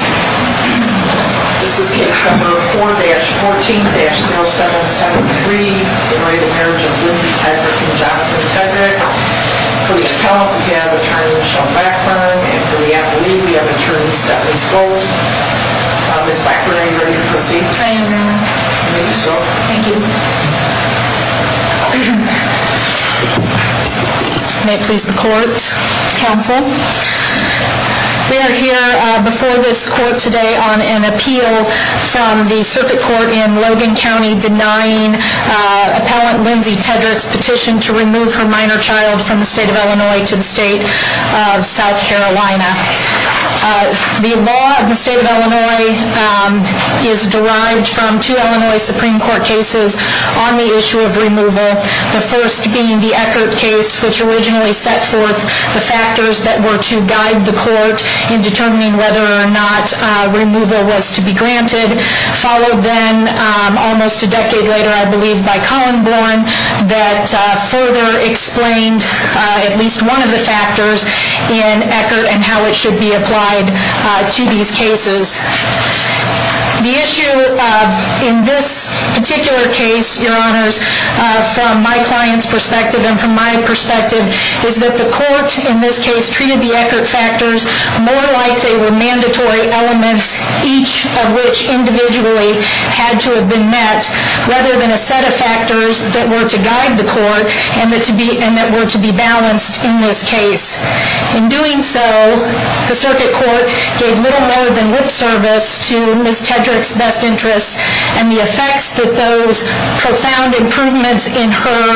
This is case number 4-14-0773 in re the marriage of Lindsey Tedrick and Jonathan Tedrick. For the appellant we have attorney Michelle Backlund and for the attorney we have attorney Stephanie Schultz. Ms. Backlund are you ready to proceed? I am ready. Thank you so much. Thank you. May it please the court, counsel. We are here before this court today on an appeal from the circuit court in Logan County denying appellant Lindsey Tedrick's petition to remove her minor child from the state of Illinois to the state of South Carolina. The law of the state of Illinois is derived from two Illinois Supreme Court cases on the issue of removal. The first being the Eckert case which originally set forth the factors that were to guide the court in determining whether or not removal was to be granted. Followed then almost a decade later I believe by Colin Borne that further explained at least one of the factors in Eckert and how it should be applied to these cases. The issue in this particular case, your honors, from my client's perspective and from my perspective is that the court in this case treated the Eckert factors more like they were mandatory elements each of which individually had to have been met rather than a set of factors that were to guide the court and that were to be balanced in this case. In doing so, the circuit court gave little more than lip service to Ms. Tedrick's best interests and the effects that those profound improvements in her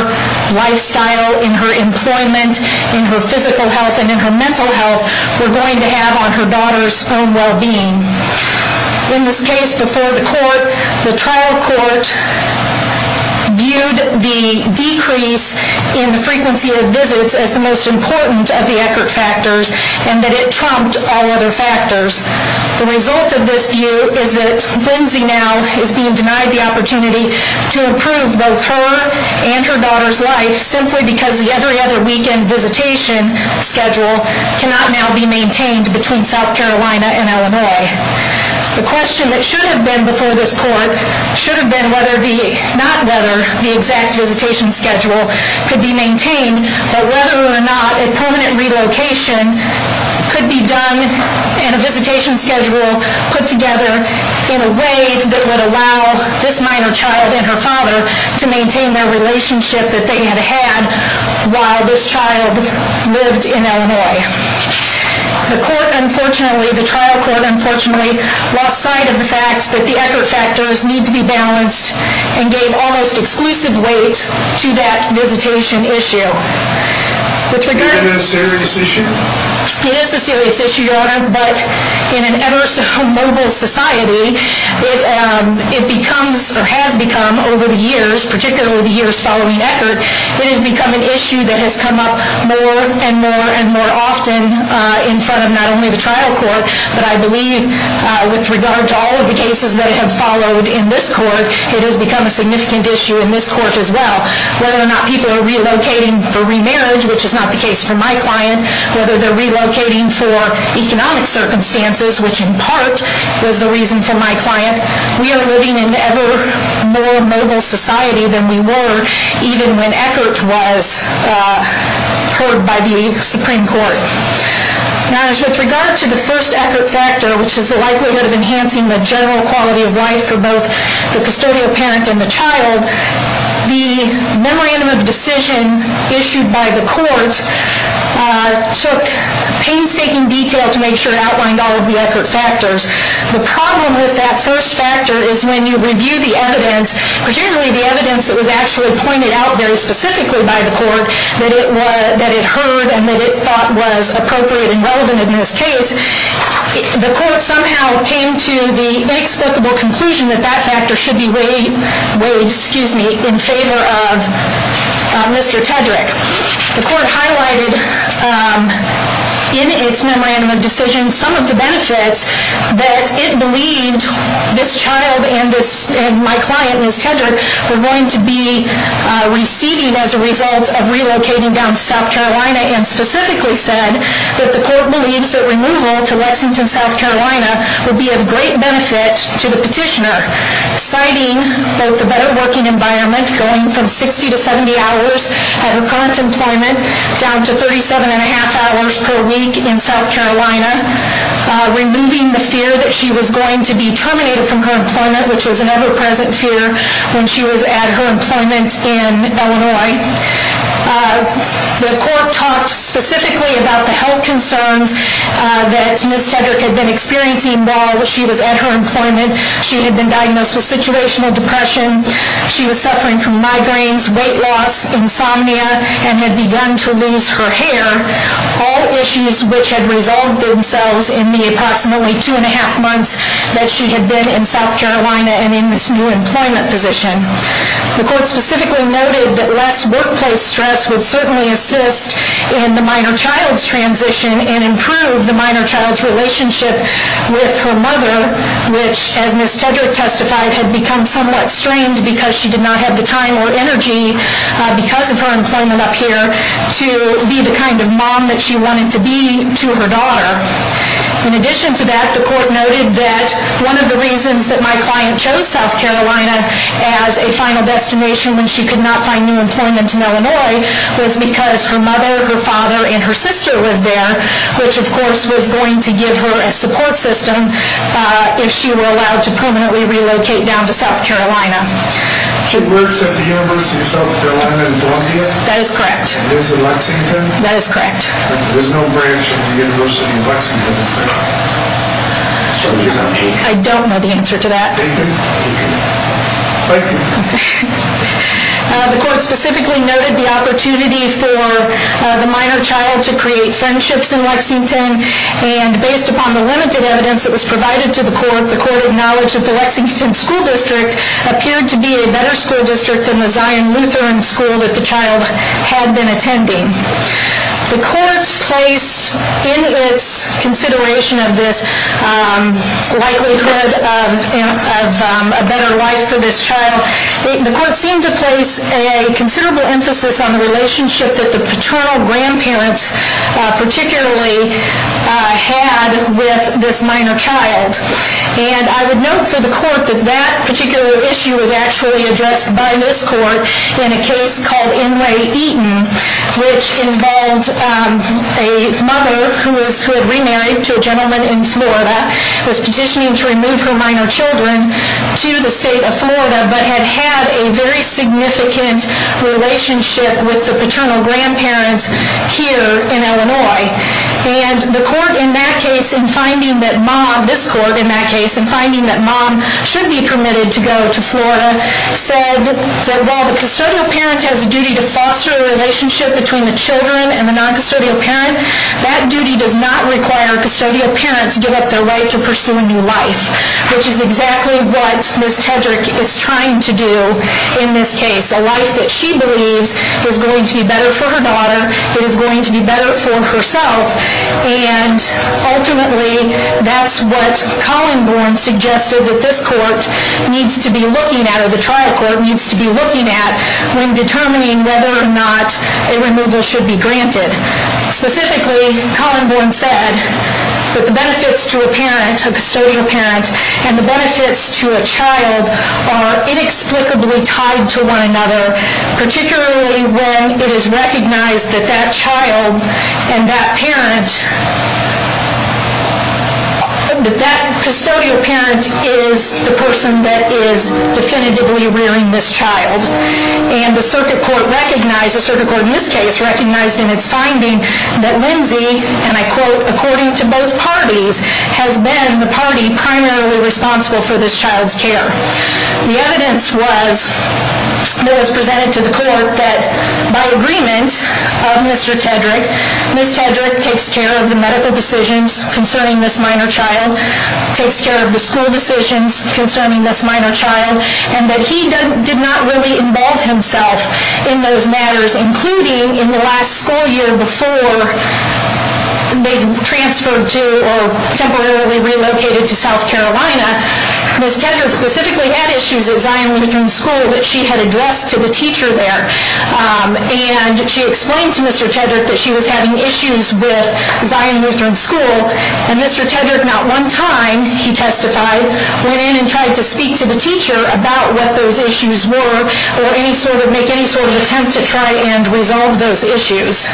lifestyle, in her employment, in her physical health and in her mental health were going to have on her daughter's own well-being. In this case before the court, the trial court viewed the decrease in the frequency of visits as the most important of the Eckert factors and that it trumped all other factors. The result of this view is that Lindsay now is being denied the opportunity to improve both her and her daughter's life simply because the every other weekend visitation schedule cannot now be maintained between South Carolina and Illinois. The question that should have been before this court should have been not whether the exact visitation schedule could be maintained but whether or not a permanent relocation could be done and a visitation schedule put together in a way that would allow this minor child and her father to maintain their relationship that they had had while this child lived in Illinois. The trial court unfortunately lost sight of the fact that the Eckert factors need to be balanced and gave almost exclusive weight to that visitation issue. Is it a serious issue? It is a serious issue, Your Honor, but in an ever so mobile society, it becomes or has become over the years, particularly the years following Eckert, it has become an issue that has come up more and more and more often in front of not only the trial court but I believe with regard to all of the cases that have followed in this court, it has become a significant issue in this court as well. Whether or not people are relocating for remarriage, which is not the case for my client, whether they're relocating for economic circumstances, which in part was the reason for my client, we are living in an ever more mobile society than we were even when Eckert was heard by the Supreme Court. Now as with regard to the first Eckert factor, which is the likelihood of enhancing the general quality of life for both the custodial parent and the child, the memorandum of decision issued by the court took painstaking detail to make sure it outlined all of the Eckert factors. The problem with that first factor is when you review the evidence, particularly the evidence that was actually pointed out very specifically by the court that it heard and that it thought was appropriate and relevant in this case, the court somehow came to the inexplicable conclusion that that factor should be weighed in favor of Mr. Tedrick. The court highlighted in its memorandum of decision some of the benefits that it believed this child and my client, Ms. Tedrick, were going to be receiving as a result of relocating down to South Carolina and specifically said that the court believes that removal to Lexington, South Carolina, would be of great benefit to the petitioner. Citing both the better working environment, going from 60 to 70 hours at her current employment, down to 37 and a half hours per week in South Carolina, removing the fear that she was going to be terminated from her employment, which was an ever present fear when she was at her employment in Illinois. The court talked specifically about the health concerns that Ms. Tedrick had been experiencing while she was at her employment. She had been diagnosed with situational depression. She was suffering from migraines, weight loss, insomnia, and had begun to lose her hair, all issues which had resolved themselves in the approximately two and a half months that she had been in South Carolina and in this new employment position. The court specifically noted that less workplace stress would certainly assist in the minor child's transition and improve the minor child's relationship with her mother, which, as Ms. Tedrick testified, had become somewhat strained because she did not have the time or energy, because of her employment up here, to be the kind of mom that she wanted to be to her daughter. In addition to that, the court noted that one of the reasons that my client chose South Carolina as a final destination when she could not find new employment in Illinois was because her mother, her father, and her sister lived there, which of course was going to give her a support system if she were allowed to permanently relocate down to South Carolina. She works at the University of South Carolina in Columbia? That is correct. And lives in Lexington? That is correct. There is no branch in the University of Lexington that is there? I don't know the answer to that. Thank you. The court specifically noted the opportunity for the minor child to create friendships in Lexington, and based upon the limited evidence that was provided to the court, the court acknowledged that the Lexington School District appeared to be a better school district than the Zion Lutheran School that the child had been attending. The court placed in its consideration of this likelihood of a better life for this child, the court seemed to place a considerable emphasis on the relationship that the paternal grandparents particularly had with this minor child. And I would note for the court that that particular issue was actually addressed by this court in a case called Inlay Eaton, which involved a mother who had remarried to a gentleman in Florida, was petitioning to remove her minor children to the state of Florida, but had had a very significant relationship with the paternal grandparents here in Illinois. And the court in that case, in finding that mom, this court in that case, in finding that mom should be permitted to go to Florida, said that while the custodial parent has a duty to foster a relationship between the children and the non-custodial parent, that duty does not require custodial parents give up their right to pursue a new life, which is exactly what Ms. Tedrick is trying to do in this case. A life that she believes is going to be better for her daughter, it is going to be better for herself, and ultimately that's what Colin Bourne suggested that this court needs to be looking at, or the trial court needs to be looking at, when determining whether or not a removal should be granted. Specifically, Colin Bourne said that the benefits to a parent, a custodial parent, and the benefits to a child are inexplicably tied to one another, particularly when it is recognized that that child and that parent, that that custodial parent is the person that is definitively rearing this child. And the circuit court recognized, the circuit court in this case recognized in its finding that Lindsay, and I quote, according to both parties, has been the party primarily responsible for this child's care. The evidence was, that was presented to the court, that by agreement of Mr. Tedrick, Ms. Tedrick takes care of the medical decisions concerning this minor child, takes care of the school decisions concerning this minor child, and that he did not really involve himself in those matters, including in the last school year before they transferred to, or temporarily relocated to South Carolina. Ms. Tedrick specifically had issues at Zion Lutheran School that she had addressed to the teacher there, and she explained to Mr. Tedrick that she was having issues with Zion Lutheran School, and Mr. Tedrick not one time, he testified, went in and tried to speak to the teacher about what those issues were, or any sort of, make any sort of attempt to try and resolve those issues.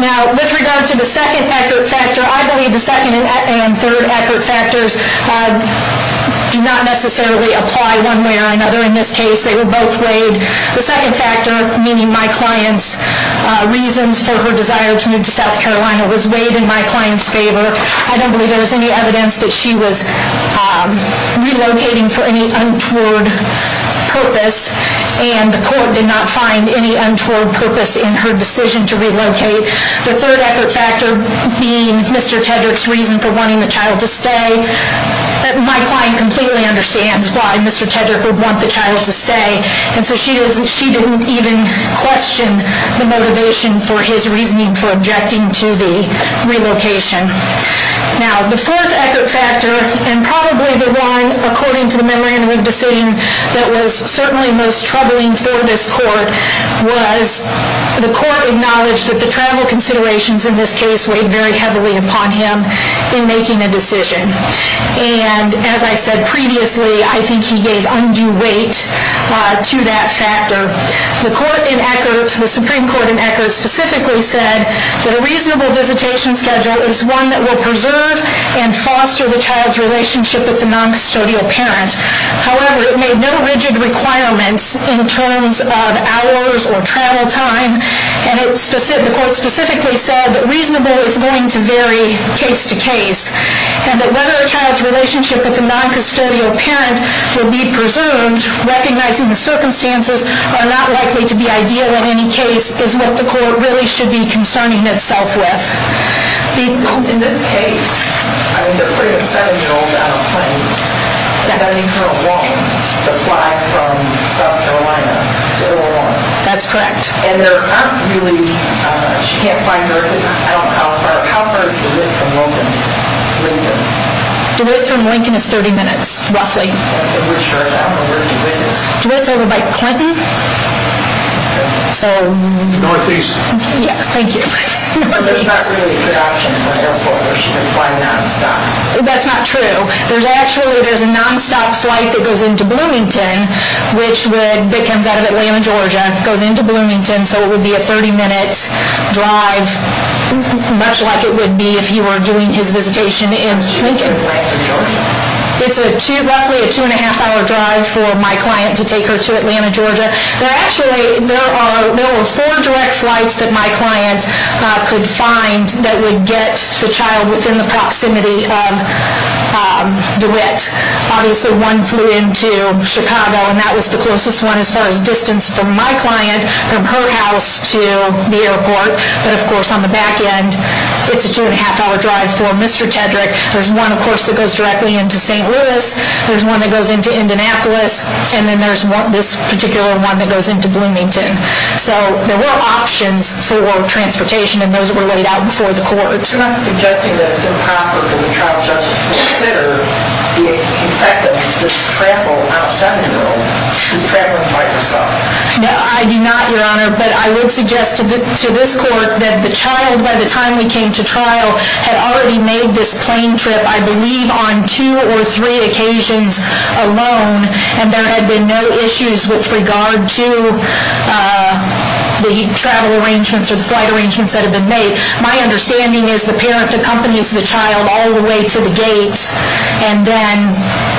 Now, with regard to the second accurate factor, I believe the second and third accurate factors do not necessarily apply one way or another in this case, they were both weighed. The second factor, meaning my client's reasons for her desire to move to South Carolina was weighed in my client's favor. I don't believe there was any evidence that she was relocating for any untoward purpose, and the court did not find any untoward purpose in her decision to relocate. The third accurate factor being Mr. Tedrick's reason for wanting the child to stay. My client completely understands why Mr. Tedrick would want the child to stay, and so she didn't even question the motivation for his reasoning for objecting to the relocation. Now, the fourth accurate factor, and probably the one, according to the memorandum of decision, that was certainly most troubling for this court, was the court acknowledged that the travel considerations in this case weighed very heavily upon him in making a decision. And as I said previously, I think he gave undue weight to that factor. The Supreme Court in Eckert specifically said that a reasonable visitation schedule is one that will preserve and foster the child's relationship with the noncustodial parent. However, it made no rigid requirements in terms of hours or travel time, and the court specifically said that reasonable is going to vary case to case, and that whether a child's relationship with the noncustodial parent will be preserved, recognizing the circumstances, are not likely to be ideal in any case, is what the court really should be concerning itself with. In this case, I mean, they're putting a 7-year-old on a plane, and I need her alone to fly from South Carolina to Illinois. That's correct. And there aren't really, she can't find her, I don't know how far, how far is Duet from Lincoln? Duet from Lincoln is 30 minutes, roughly. And which church? I don't know where Duet is. Duet's over by Clinton. Northeast. Yes, thank you. There's not really a good option for an airport where she can fly nonstop. That's not true. There's actually, there's a nonstop flight that goes into Bloomington, which would, that comes out of Atlanta, Georgia, goes into Bloomington, so it would be a 30-minute drive, much like it would be if you were doing his visitation in Lincoln. She would get a flight to Georgia. It's a two, roughly a two-and-a-half-hour drive for my client to take her to Atlanta, Georgia. There actually, there are, there were four direct flights that my client could find that would get the child within the proximity of Duet. Obviously, one flew into Chicago, and that was the closest one as far as distance from my client, from her house to the airport. But of course, on the back end, it's a two-and-a-half-hour drive for Mr. Tedrick. There's one, of course, that goes directly into St. Louis. There's one that goes into Indianapolis. And then there's this particular one that goes into Bloomington. So there were options for transportation, and those were laid out before the court. You're not suggesting that it's improper for the trial judge to consider the effect of this trample on a seven-year-old who's traveling by herself. No, I do not, Your Honor. But I would suggest to this court that the child, by the time we came to trial, had already made this plane trip, I believe, on two or three occasions alone, and there had been no issues with regard to the travel arrangements or the flight arrangements that had been made. My understanding is the parent accompanies the child all the way to the gate, and then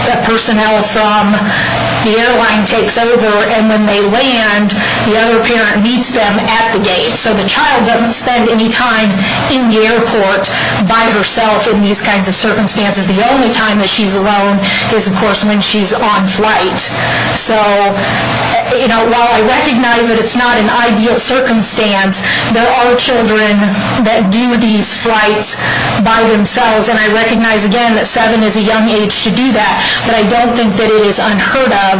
the personnel from the airline takes over, and when they land, the other parent meets them at the gate. So the child doesn't spend any time in the airport by herself in these kinds of circumstances. The only time that she's alone is, of course, when she's on flight. So while I recognize that it's not an ideal circumstance, there are children that do these flights by themselves, and I recognize, again, that seven is a young age to do that, but I don't think that it is unheard of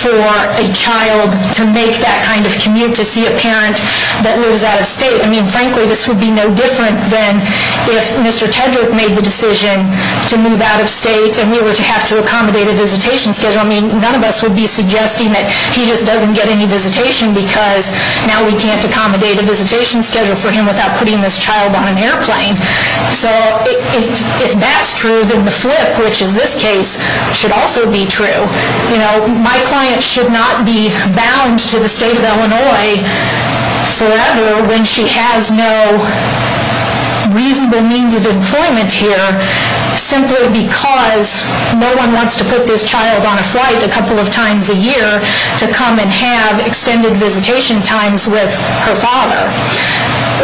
for a child to make that kind of commute to see a parent that lives out of state. I mean, frankly, this would be no different than if Mr. Tedrick made the decision to move out of state and we were to have to accommodate a visitation schedule. I mean, none of us would be suggesting that he just doesn't get any visitation because now we can't accommodate a visitation schedule for him without putting this child on an airplane. So if that's true, then the flip, which is this case, should also be true. You know, my client should not be bound to the state of Illinois forever when she has no reasonable means of employment here simply because no one wants to put this child on a flight a couple of times a year to come and have extended visitation times with her father.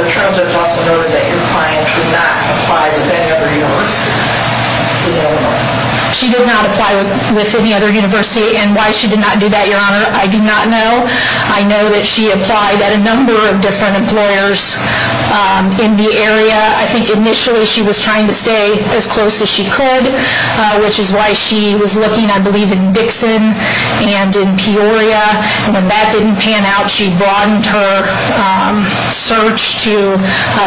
The terms of hustle noted that your client did not apply to any other university in Illinois. She did not apply with any other university, and why she did not do that, Your Honor, I do not know. I know that she applied at a number of different employers in the area. I think initially she was trying to stay as close as she could, which is why she was looking, I believe, in Dixon and in Peoria, and when that didn't pan out, she broadened her search to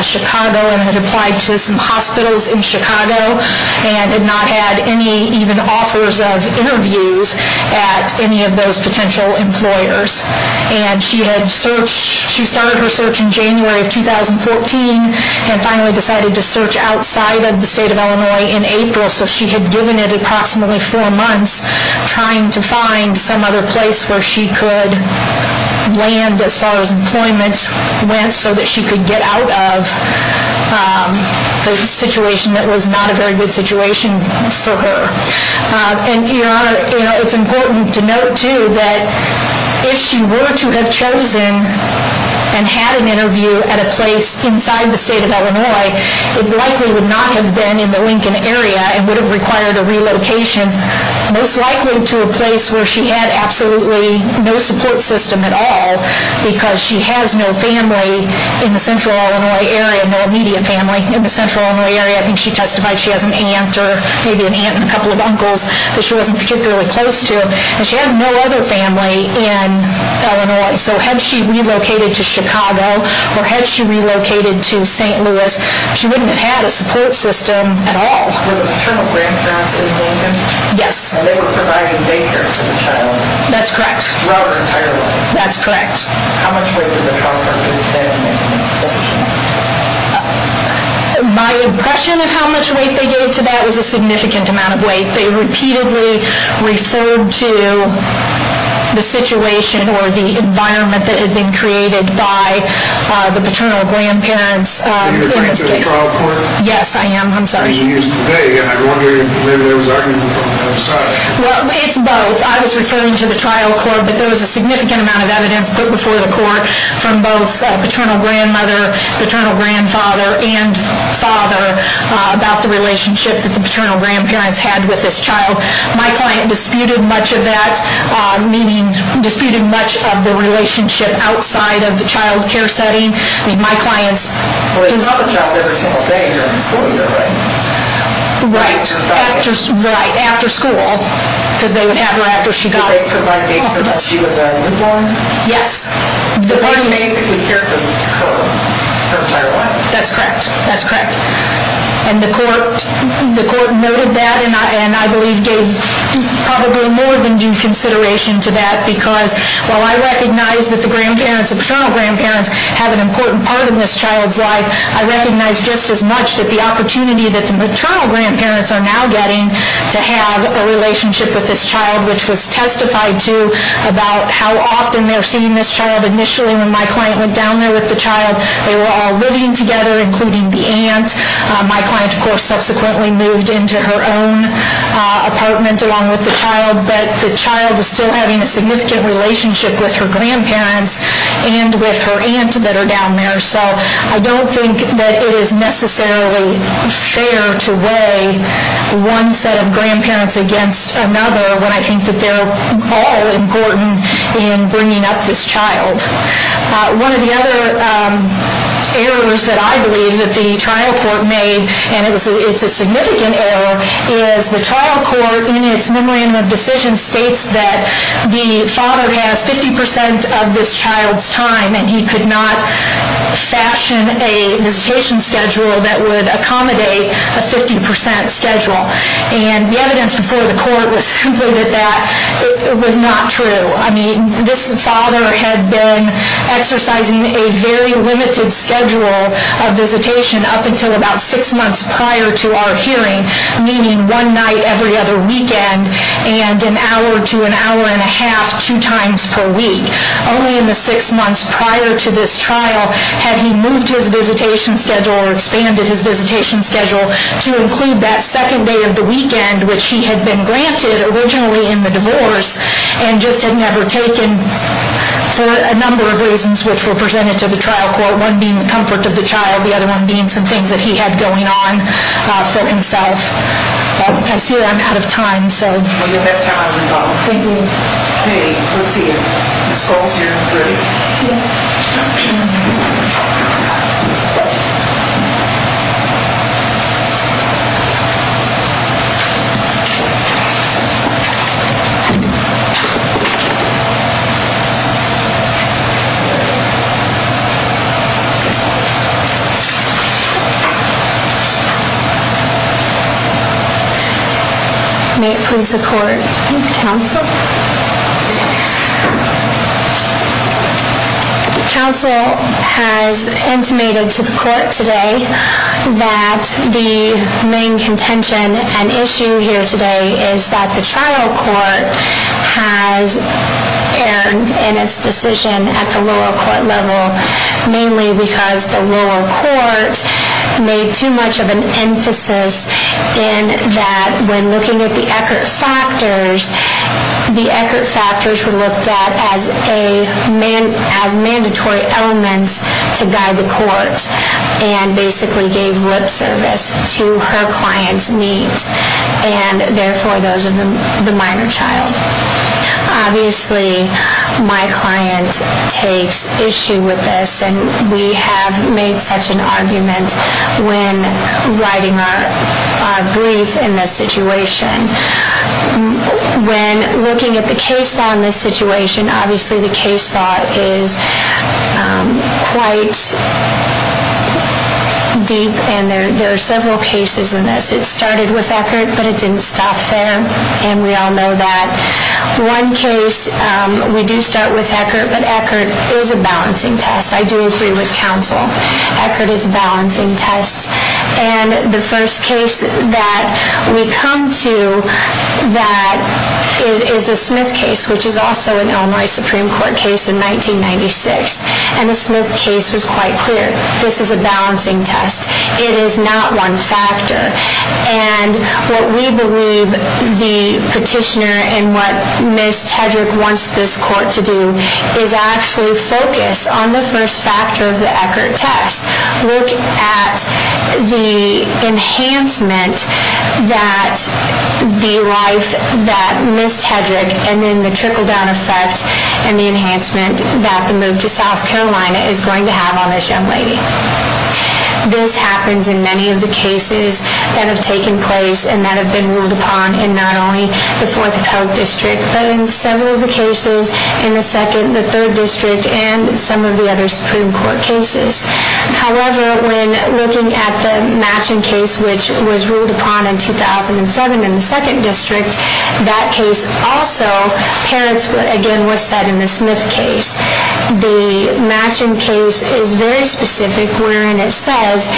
Chicago and had applied to some hospitals in Chicago and had not had any even offers of interviews at any of those potential employers. And she started her search in January of 2014 and finally decided to search outside of the state of Illinois in April, so she had given it approximately four months trying to find some other place where she could land as far as employment went so that she could get out of the situation that was not a very good situation for her. And, Your Honor, it's important to note, too, that if she were to have chosen and had an interview at a place inside the state of Illinois, it likely would not have been in the Lincoln area and would have required a relocation, most likely to a place where she had absolutely no support system at all, because she has no family in the Central Illinois area, no immediate family in the Central Illinois area. I think she testified she has an aunt or maybe an aunt and a couple of uncles that she wasn't particularly close to, and she has no other family in Illinois. So had she relocated to Chicago or had she relocated to St. Louis, she wouldn't have had a support system at all. Were the paternal grandparents in Lincoln? Yes. And they were providing daycare to the child? That's correct. Throughout her entire life? That's correct. How much weight did the childcare pay in making that decision? My impression of how much weight they gave to that was a significant amount of weight. They repeatedly referred to the situation or the environment that had been created by the paternal grandparents in this case. Are you referring to the trial court? Yes, I am. I'm sorry. I wonder if there was argument from either side. Well, it's both. I was referring to the trial court, but there was a significant amount of evidence put before the court from both paternal grandmother, paternal grandfather, and father about the relationship that the paternal grandparents had with this child. My client disputed much of that, meaning disputed much of the relationship outside of the childcare setting. I mean, my client's... Well, they saw the child every single day during the school year, right? Right. Right, after school, because they would have her after she got off the bus. Did they provide daycare when she was a newborn? Yes. The party basically cared for her entire life. That's correct. That's correct. And the court noted that, and I believe gave probably more than due consideration to that, because while I recognize that the grandparents, the paternal grandparents, have an important part in this child's life, I recognize just as much that the opportunity that the maternal grandparents are now getting to have a relationship with this child, which was testified to about how often they're seeing this child. Initially, when my client went down there with the child, they were all living together, including the aunt. My client, of course, subsequently moved into her own apartment along with the child, but the child is still having a significant relationship with her grandparents and with her aunt that are down there. So I don't think that it is necessarily fair to weigh one set of grandparents against another when I think that they're all important in bringing up this child. One of the other errors that I believe that the trial court made, and it's a significant error, is the trial court, in its memorandum of decision, states that the father has 50% of this child's time and he could not fashion a visitation schedule that would accommodate a 50% schedule. And the evidence before the court was simply that that was not true. I mean, this father had been exercising a very limited schedule of visitation up until about six months prior to our hearing, meaning one night every other weekend and an hour to an hour and a half two times per week. Only in the six months prior to this trial had he moved his visitation schedule or expanded his visitation schedule to include that second day of the weekend, which he had been granted originally in the divorce and just had never taken for a number of reasons, which were presented to the trial court, one being the comfort of the child, the other one being some things that he had going on for himself. I see that I'm out of time. I'm sorry. Well, you'll have time on the phone. Thank you. Okay. Let's see. Ms. Schultz, you're ready? Yes. Okay. May it please the court. Counsel. Counsel has intimated to the court today that the main contention and issue here today is that the trial court has erred in its decision at the lower court level, mainly because the lower court made too much of an emphasis in that when looking at the Eckert factors, the Eckert factors were looked at as mandatory elements to guide the court and basically gave lip service to her client's needs and therefore those of the minor child. Obviously, my client takes issue with this, and we have made such an argument when writing our brief in this situation. When looking at the case law in this situation, obviously the case law is quite deep, and there are several cases in this. It started with Eckert, but it didn't stop there, and we all know that. One case, we do start with Eckert, but Eckert is a balancing test. I do agree with counsel. Eckert is a balancing test. The first case that we come to is the Smith case, which is also an Illinois Supreme Court case in 1996, and the Smith case was quite clear. This is a balancing test. It is not one factor, and what we believe the petitioner and what Ms. Tedrick wants this court to do is actually focus on the first factor of the Eckert test. Look at the enhancement that the life that Ms. Tedrick and then the trickle-down effect and the enhancement that the move to South Carolina is going to have on this young lady. This happens in many of the cases that have taken place and that have been ruled upon in not only the Fourth of Hope District, but in several of the cases in the Third District and some of the other Supreme Court cases. However, when looking at the matching case, which was ruled upon in 2007 in the Second District, that case also, parents again were set in the Smith case. The matching case is very specific wherein it says,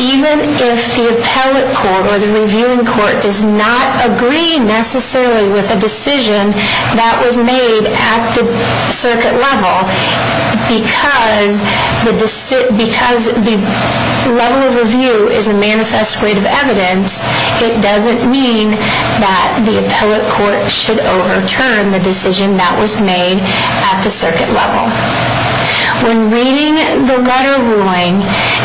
even if the appellate court or the reviewing court does not agree necessarily with a decision that was made at the circuit level, because the level of review is a manifest way of evidence, it doesn't mean that the appellate court should overturn the decision that was made at the circuit level. When reading the letter ruling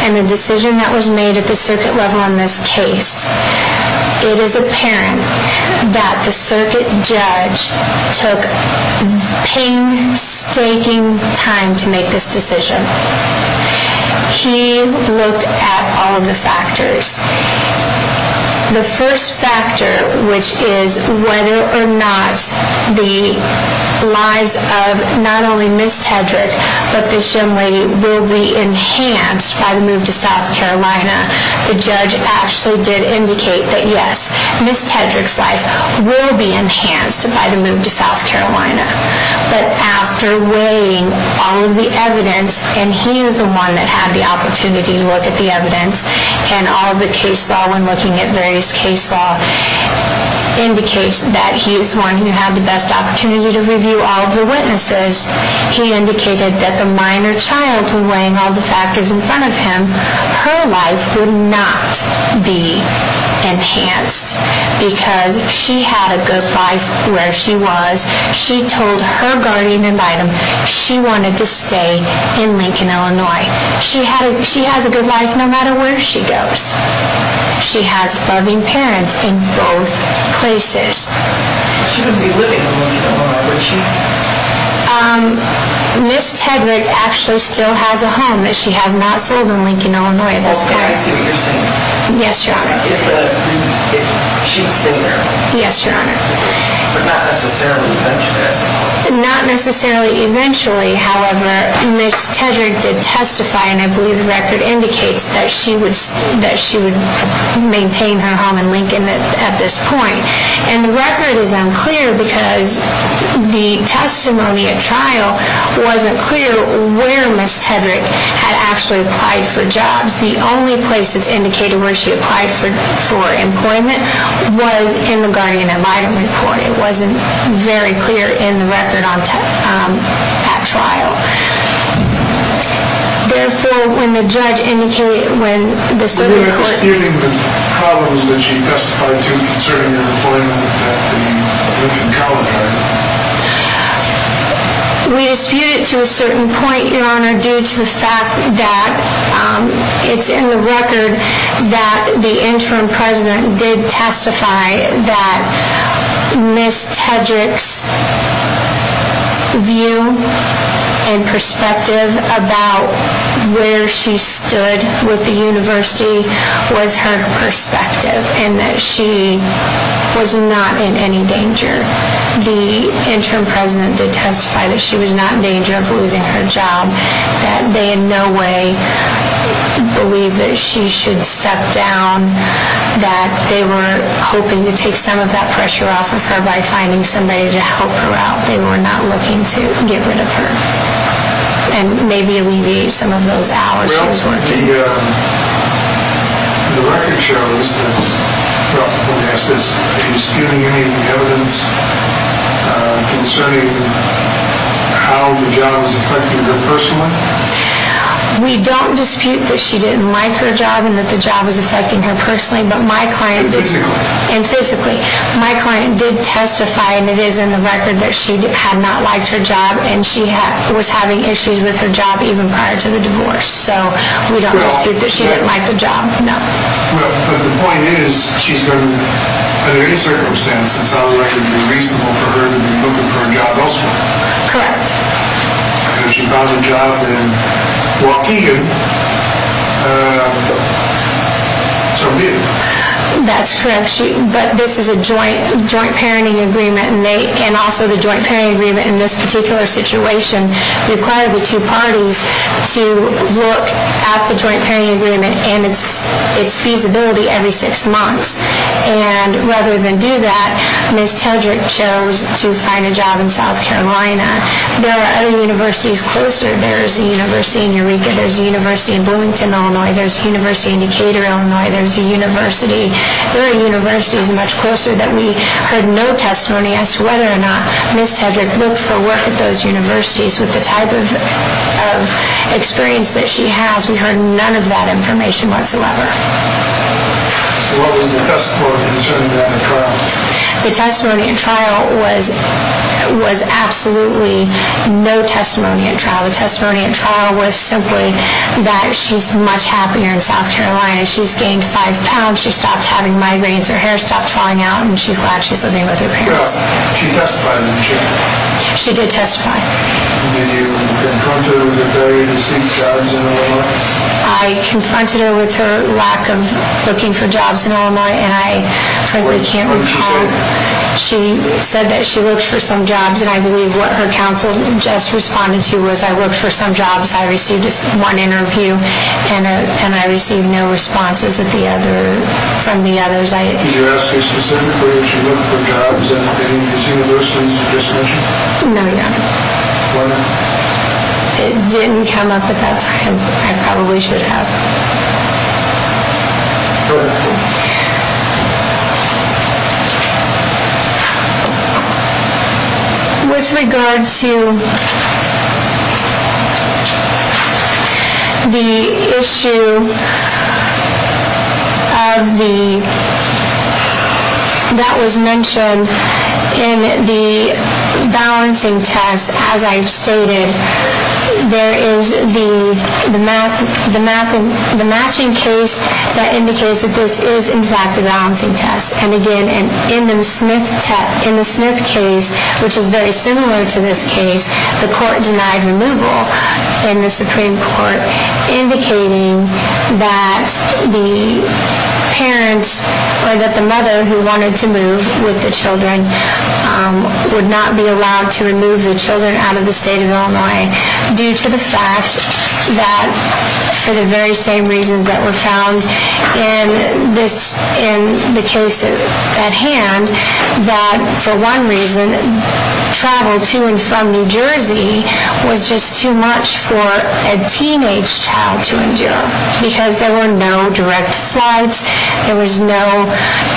and the decision that was made at the circuit level on this case, it is apparent that the circuit judge took painstaking time to make this decision. He looked at all of the factors. The first factor, which is whether or not the lives of not only Ms. Tedrick, but this young lady will be enhanced by the move to South Carolina. The judge actually did indicate that yes, Ms. Tedrick's life will be enhanced by the move to South Carolina. But after weighing all of the evidence, and he is the one that had the opportunity to look at the evidence, and all of the case law when looking at various case law indicates that he is the one who had the best opportunity to review all of the witnesses, he indicated that the minor child who weighing all the factors in front of him, her life would not be enhanced because she had a good life where she was. She told her guardian and item she wanted to stay in Lincoln, Illinois. She has a good life no matter where she goes. She has loving parents in both places. She wouldn't be living in Lincoln, Illinois, would she? Ms. Tedrick actually still has a home that she has not sold in Lincoln, Illinois at this point. Well, can I see what you're saying? Yes, Your Honor. If she'd stayed there. Yes, Your Honor. But not necessarily eventually, I suppose. Not necessarily eventually. However, Ms. Tedrick did testify, and I believe the record indicates that she would maintain her home in Lincoln at this point. And the record is unclear because the testimony at trial wasn't clear where Ms. Tedrick had actually applied for jobs. The only place that's indicated where she applied for employment was in the guardian and item report. It wasn't very clear in the record at trial. Therefore, when the judge indicated, when the Supreme Court was disputing the problems that she testified to concerning her employment at the Lincoln College, right? We disputed it to a certain point, Your Honor, due to the fact that it's in the record that the interim president did testify that Ms. Tedrick's view and perspective about where she stood with the university was her perspective and that she was not in any danger. The interim president did testify that she was not in danger of losing her job, that they in no way believed that she should step down, that they were hoping to take some of that pressure off of her by finding somebody to help her out. That they were not looking to get rid of her and maybe alleviate some of those hours she was working. Well, the record shows that, well, let me ask this. Are you disputing any of the evidence concerning how the job is affecting her personally? We don't dispute that she didn't like her job and that the job was affecting her personally, but my client did. And physically. And physically. My client did testify, and it is in the record, that she had not liked her job and she was having issues with her job even prior to the divorce. So we don't dispute that she didn't like the job, no. Well, but the point is she's been, under any circumstance, it sounds like it would be reasonable for her to be looking for a job elsewhere. Correct. Because she found a job in Waukegan, so did. That's correct. But this is a joint parenting agreement, and also the joint parenting agreement in this particular situation required the two parties to look at the joint parenting agreement and its feasibility every six months. And rather than do that, Ms. Tedrick chose to find a job in South Carolina. There are other universities closer. There's a university in Eureka. There's a university in Bloomington, Illinois. There's a university in Decatur, Illinois. There's a university. There are universities much closer that we heard no testimony as to whether or not Ms. Tedrick looked for work at those universities. With the type of experience that she has, we heard none of that information whatsoever. So what was the testimony concerning that in trial? The testimony in trial was absolutely no testimony in trial. The testimony in trial was simply that she's much happier in South Carolina. She's gained five pounds. She stopped having migraines. Her hair stopped falling out, and she's glad she's living with her parents. Well, she testified, didn't she? She did testify. Did you confront her with her failure to seek jobs in Illinois? I confronted her with her lack of looking for jobs in Illinois, and I frankly can't recall. What did she say? She said that she looked for some jobs, and I believe what her counsel just responded to was, I looked for some jobs I received in one interview, and I received no responses from the others. Did you ask her specifically if she looked for jobs at any of these universities you just mentioned? No, Your Honor. Why not? It didn't come up at that time. I probably should have. Okay. With regard to the issue that was mentioned in the balancing test, as I've stated, there is the matching case that indicates that this is, in fact, a balancing test. And again, in the Smith case, which is very similar to this case, the court denied removal in the Supreme Court, indicating that the parents or that the mother who wanted to move with the children would not be allowed to remove the children out of the state of Illinois due to the fact that, for the very same reasons that were found in the case at hand, that for one reason, travel to and from New Jersey was just too much for a teenage child to endure because there were no direct flights. There was no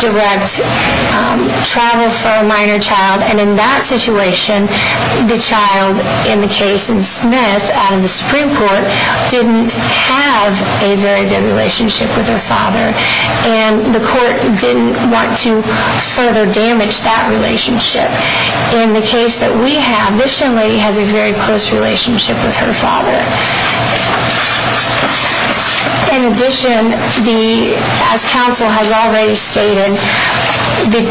direct travel for a minor child. And in that situation, the child in the case in Smith out of the Supreme Court didn't have a very good relationship with her father, and the court didn't want to further damage that relationship. In the case that we have, this young lady has a very close relationship with her father. In addition, as counsel has already stated, the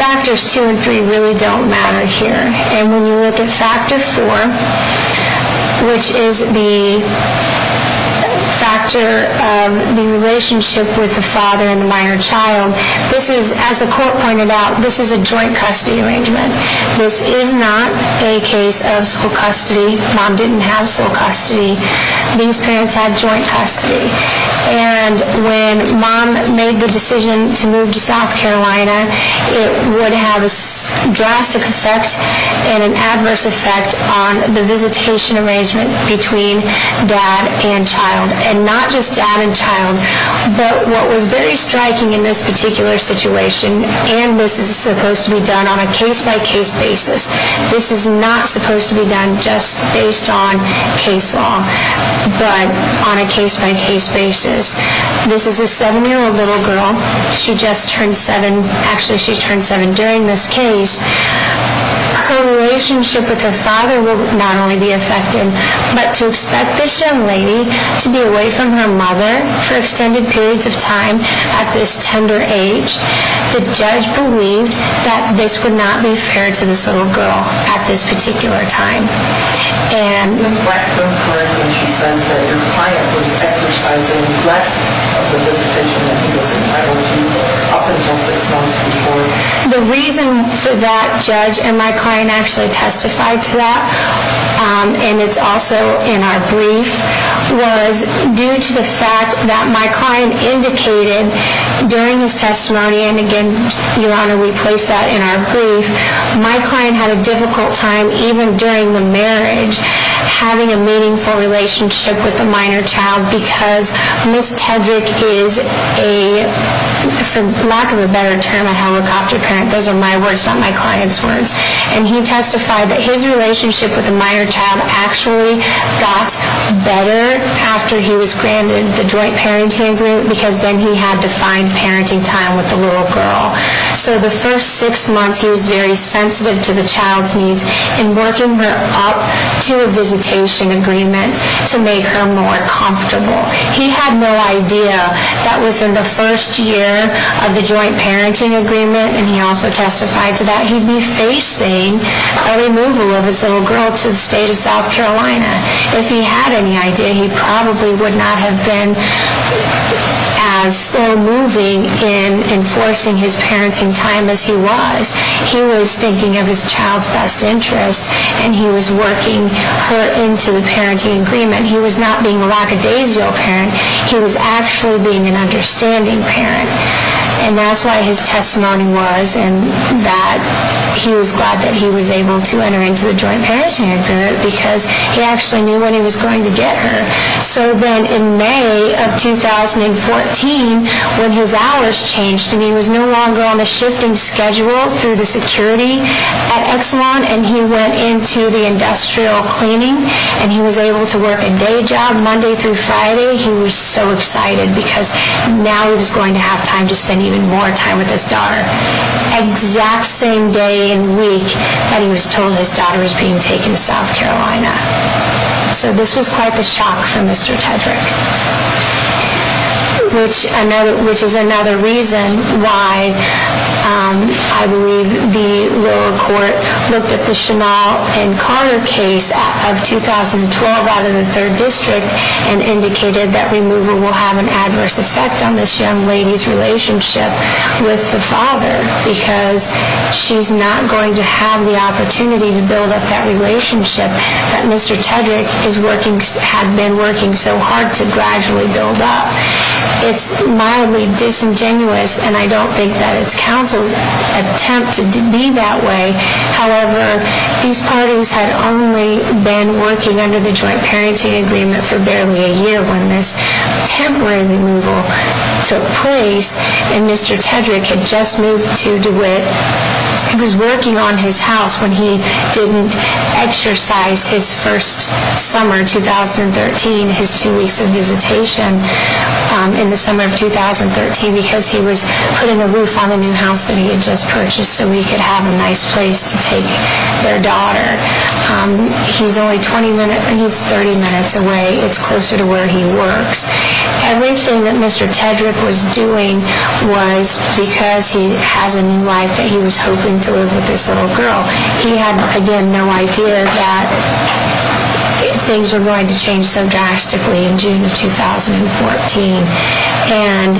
factors two and three really don't matter here. And when you look at factor four, which is the factor of the relationship with the father and the minor child, this is, as the court pointed out, this is a joint custody arrangement. This is not a case of sole custody. Mom didn't have sole custody. These parents had joint custody. And when Mom made the decision to move to South Carolina, it would have a drastic effect and an adverse effect on the visitation arrangement between dad and child. And not just dad and child, but what was very striking in this particular situation, and this is supposed to be done on a case-by-case basis, this is not supposed to be done just based on case law, but on a case-by-case basis. This is a seven-year-old little girl. She just turned seven. Actually, she turned seven during this case. Her relationship with her father will not only be affected, but to expect this young lady to be away from her mother for extended periods of time at this tender age, the judge believed that this would not be fair to this little girl at this particular time. And... Was Ms. Blackbone correct when she says that your client was exercising less of the visitation that he was entitled to up until six months before? The reason that judge and my client actually testified to that, and it's also in our brief, was due to the fact that my client indicated during his testimony, and again, Your Honor, we placed that in our brief, my client had a difficult time even during the marriage having a meaningful relationship with the minor child because Ms. Tedrick is a, for lack of a better term, a helicopter parent. Those are my words, not my client's words. And he testified that his relationship with the minor child actually got better after he was granted the joint parenting agreement because then he had to find parenting time with the little girl. So the first six months, he was very sensitive to the child's needs in working her up to a visitation agreement to make her more comfortable. He had no idea that within the first year of the joint parenting agreement, and he also testified to that, he'd be facing a removal of his little girl to the state of South Carolina. If he had any idea, he probably would not have been as so moving in enforcing his parenting time as he was. He was thinking of his child's best interest, and he was working her into the parenting agreement. He was not being a raggadazio parent. He was actually being an understanding parent. And that's why his testimony was that he was glad that he was able to enter into the joint parenting agreement because he actually knew when he was going to get her. So then in May of 2014, when his hours changed and he was no longer on the shifting schedule through the security at Exelon and he went into the industrial cleaning and he was able to work a day job Monday through Friday, he was so excited because now he was going to have time to spend even more time with his daughter. Exact same day and week that he was told his daughter was being taken to South Carolina. So this was quite the shock for Mr. Tedrick, which is another reason why I believe the lower court looked at the Chenal and Carter case of 2012, out of the third district and indicated that removal will have an adverse effect on this young lady's relationship with the father because she's not going to have the opportunity to build up that relationship that Mr. Tedrick had been working so hard to gradually build up. It's mildly disingenuous, and I don't think that it's counsel's attempt to be that way. However, these parties had only been working under the joint parenting agreement for barely a year when this temporary removal took place and Mr. Tedrick had just moved to DeWitt. He was working on his house when he didn't exercise his first summer, 2013, his two weeks of visitation in the summer of 2013 because he was putting a roof on the new house that he had just purchased so he could have a nice place to take their daughter. He's only 20 minutes, he's 30 minutes away. It's closer to where he works. Everything that Mr. Tedrick was doing was because he has a new life that he was hoping to live with this little girl. He had, again, no idea that things were going to change so drastically in June of 2014. And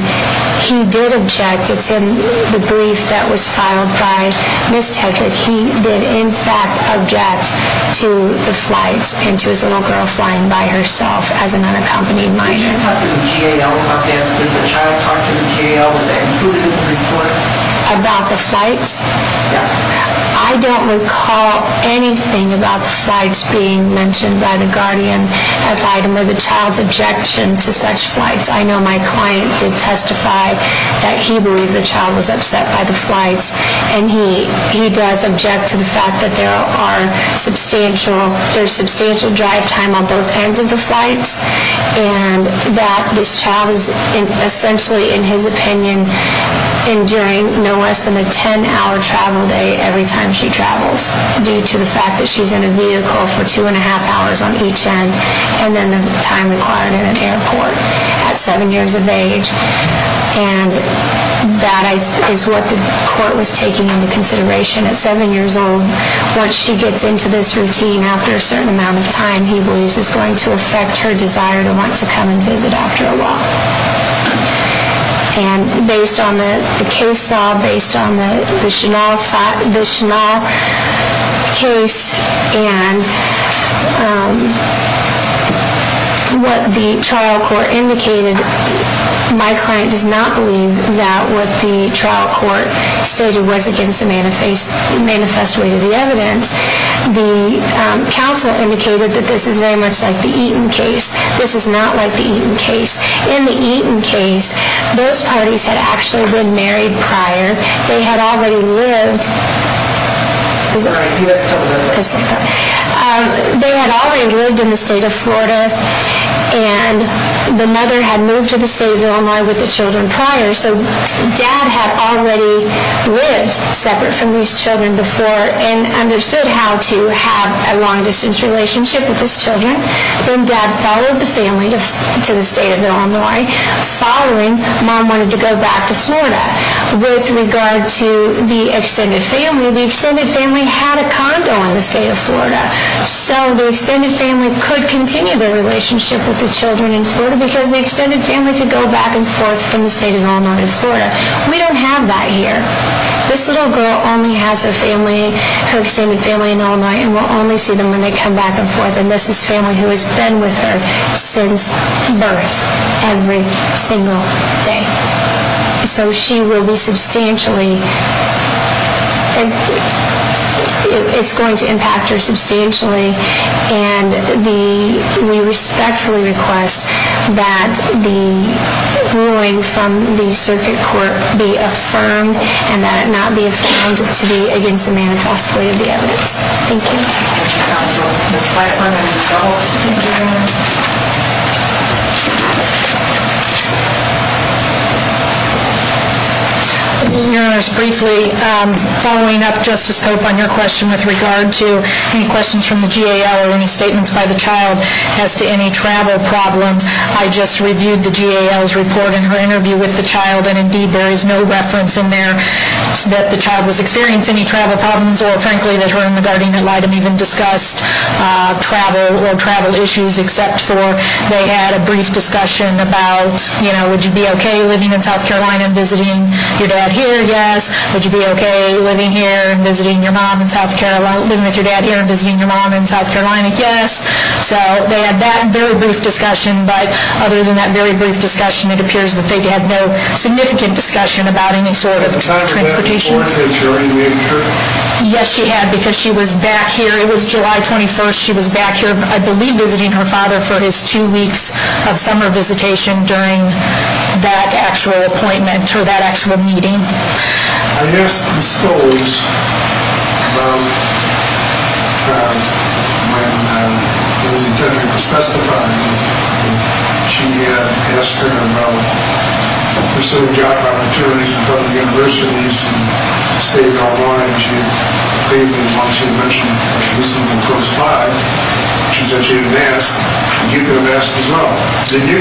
he did object. It's in the brief that was filed by Ms. Tedrick. He did, in fact, object to the flights and to his little girl flying by herself as an unaccompanied minor. Did you talk to the GAL about this? Did the child talk to the GAL? Was that included in the report? About the flights? Yes. I don't recall anything about the flights being mentioned by the Guardian, or the child's objection to such flights. I know my client did testify that he believed the child was upset by the flights, and he does object to the fact that there's substantial drive time on both ends of the flights and that this child is essentially, in his opinion, enduring no less than a 10-hour travel day every time she travels due to the fact that she's in a vehicle for two and a half hours on each end, and then the time required in an airport at seven years of age. And that is what the court was taking into consideration at seven years old. Once she gets into this routine after a certain amount of time, he believes it's going to affect her desire to want to come and visit after a while. And based on the case saw, based on the Chenal case, and what the trial court indicated, my client does not believe that what the trial court stated was against the manifest way to the evidence. The counsel indicated that this is very much like the Eaton case. This is not like the Eaton case. In the Eaton case, those parties had actually been married prior. They had already lived in the state of Florida, and the mother had moved to the state of Illinois with the children prior. So Dad had already lived separate from these children before and understood how to have a long-distance relationship with his children. Then Dad followed the family to the state of Illinois. Following, Mom wanted to go back to Florida. With regard to the extended family, the extended family had a condo in the state of Florida. So the extended family could continue their relationship with the children in Florida because the extended family could go back and forth from the state of Illinois to Florida. We don't have that here. This little girl only has her family, her extended family in Illinois, and will only see them when they come back and forth. And this is family who has been with her since birth every single day. So she will be substantially, it's going to impact her substantially, and we respectfully request that the ruling from the circuit court be affirmed and that it not be affirmed to be against the manifest way of the evidence. Thank you. Thank you, Counsel. Ms. Pfeiffer, you may go. Thank you. Your Honors, briefly, following up Justice Pope on your question with regard to any questions from the GAL or any statements by the child as to any travel problems, I just reviewed the GAL's report in her interview with the child, and indeed there is no reference in there that the child was experiencing any travel problems or, frankly, that her and the guardian ad litem even discussed travel or travel issues except for they had a brief discussion about, you know, would you be okay living in South Carolina and visiting your dad here? Yes. Would you be okay living here and visiting your mom in South Carolina, living with your dad here and visiting your mom in South Carolina? Yes. So they had that very brief discussion, but other than that very brief discussion, it appears that they had no significant discussion about any sort of transportation. Yes, she had because she was back here. It was July 21st. She was back here, I believe, visiting her father for his two weeks of summer visitation during that actual appointment or that actual meeting. I asked Ms. Stolz about that when it was intended for testifying. She had asked her about the pursuit of job opportunities in public universities in the state of North Carolina. She had stated and wanted to mention that she was looking for a spot. She said she had asked, and you could have asked as well. Did you?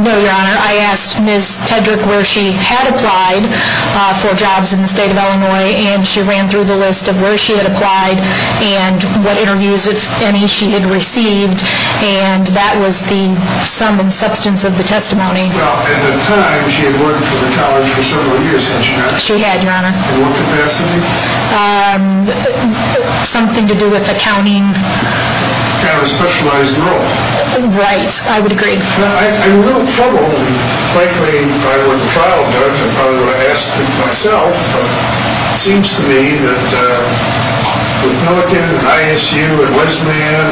No, Your Honor. I asked Ms. Tedrick where she had applied for jobs in the state of Illinois, and she ran through the list of where she had applied and what interviews, if any, she had received, and that was the sum and substance of the testimony. Well, at the time, she had worked for the college for several years, hadn't she not? She had, Your Honor. In what capacity? Something to do with accounting. Kind of a specialized role. Right. I would agree. I'm a little troubled, and frankly, if I were the trial judge, I probably would have asked myself. It seems to me that with Milliken and ISU and Westman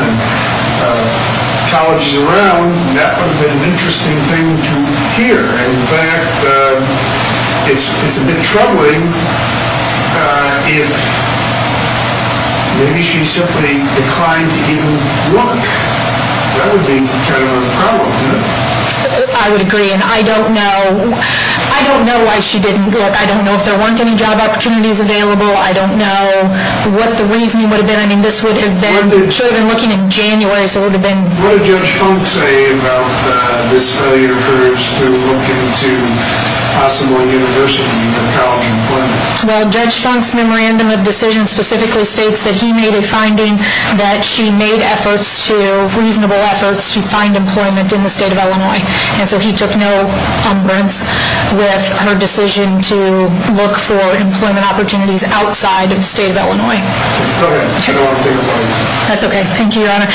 and colleges around, that would have been an interesting thing to hear. In fact, it's a bit troubling if maybe she simply declined to even look. That would be kind of a problem, wouldn't it? I would agree, and I don't know why she didn't look. I don't know if there weren't any job opportunities available. I don't know what the reasoning would have been. I mean, this would have been, she would have been looking in January, so it would have been. What did Judge Funk say about this failure of hers to look into possibly introducing a college employment? Well, Judge Funk's memorandum of decision specifically states that he made a finding that she made efforts to, reasonable efforts, to find employment in the state of Illinois, and so he took no umbrage with her decision to look for employment opportunities outside of the state of Illinois. Go ahead. I don't want to take up all your time. That's okay. Thank you, Your Honor.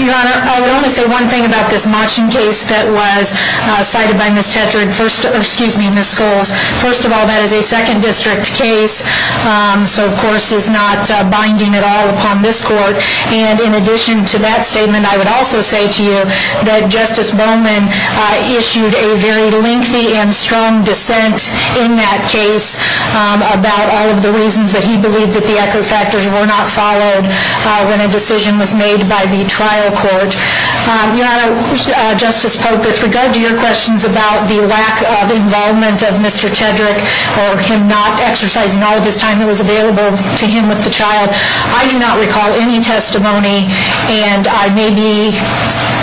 Your Honor, I would only say one thing about this Machen case that was cited by Ms. Tedrake. First, excuse me, Ms. Scholes. First of all, that is a second district case, so of course it's not binding at all upon this court, and in addition to that statement, I would also say to you that Justice Bowman issued a very lengthy and strong dissent in that case about all of the reasons that he believed that the echo factors were not followed when a decision was made by the trial court. Your Honor, Justice Pope, with regard to your questions about the lack of involvement of Mr. Tedrake or him not exercising all of his time that was available to him with the child, I do not recall any testimony, and I may be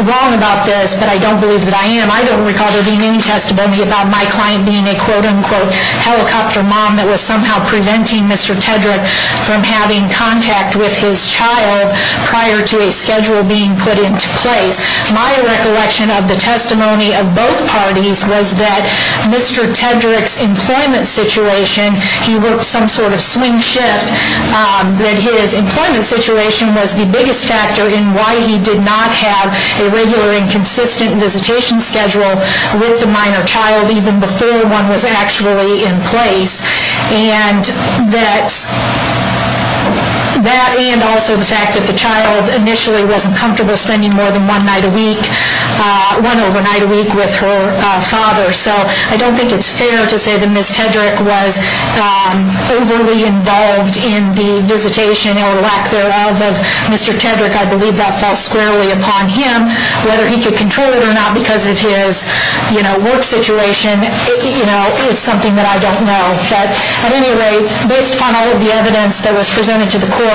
wrong about this, but I don't believe that I am. I don't recall there being any testimony about my client being a quote-unquote helicopter mom that was somehow preventing Mr. Tedrake from having contact with his child prior to a schedule being put into place. My recollection of the testimony of both parties was that Mr. Tedrake's employment situation, he worked some sort of swing shift, that his employment situation was the biggest factor in why he did not have a regular and consistent visitation schedule with the minor child, even before one was actually in place, and that and also the fact that the child initially wasn't comfortable spending more than one night a week, one overnight a week with her father. So I don't think it's fair to say that Ms. Tedrake was overly involved in the visitation or lack thereof of Mr. Tedrake. I believe that falls squarely upon him. Whether he could control it or not because of his work situation is something that I don't know. But at any rate, based on all of the evidence that was presented to the court,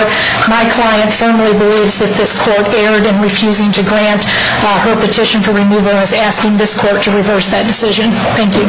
my client firmly believes that this court erred in refusing to grant her petition for removal and is asking this court to reverse that decision. Thank you.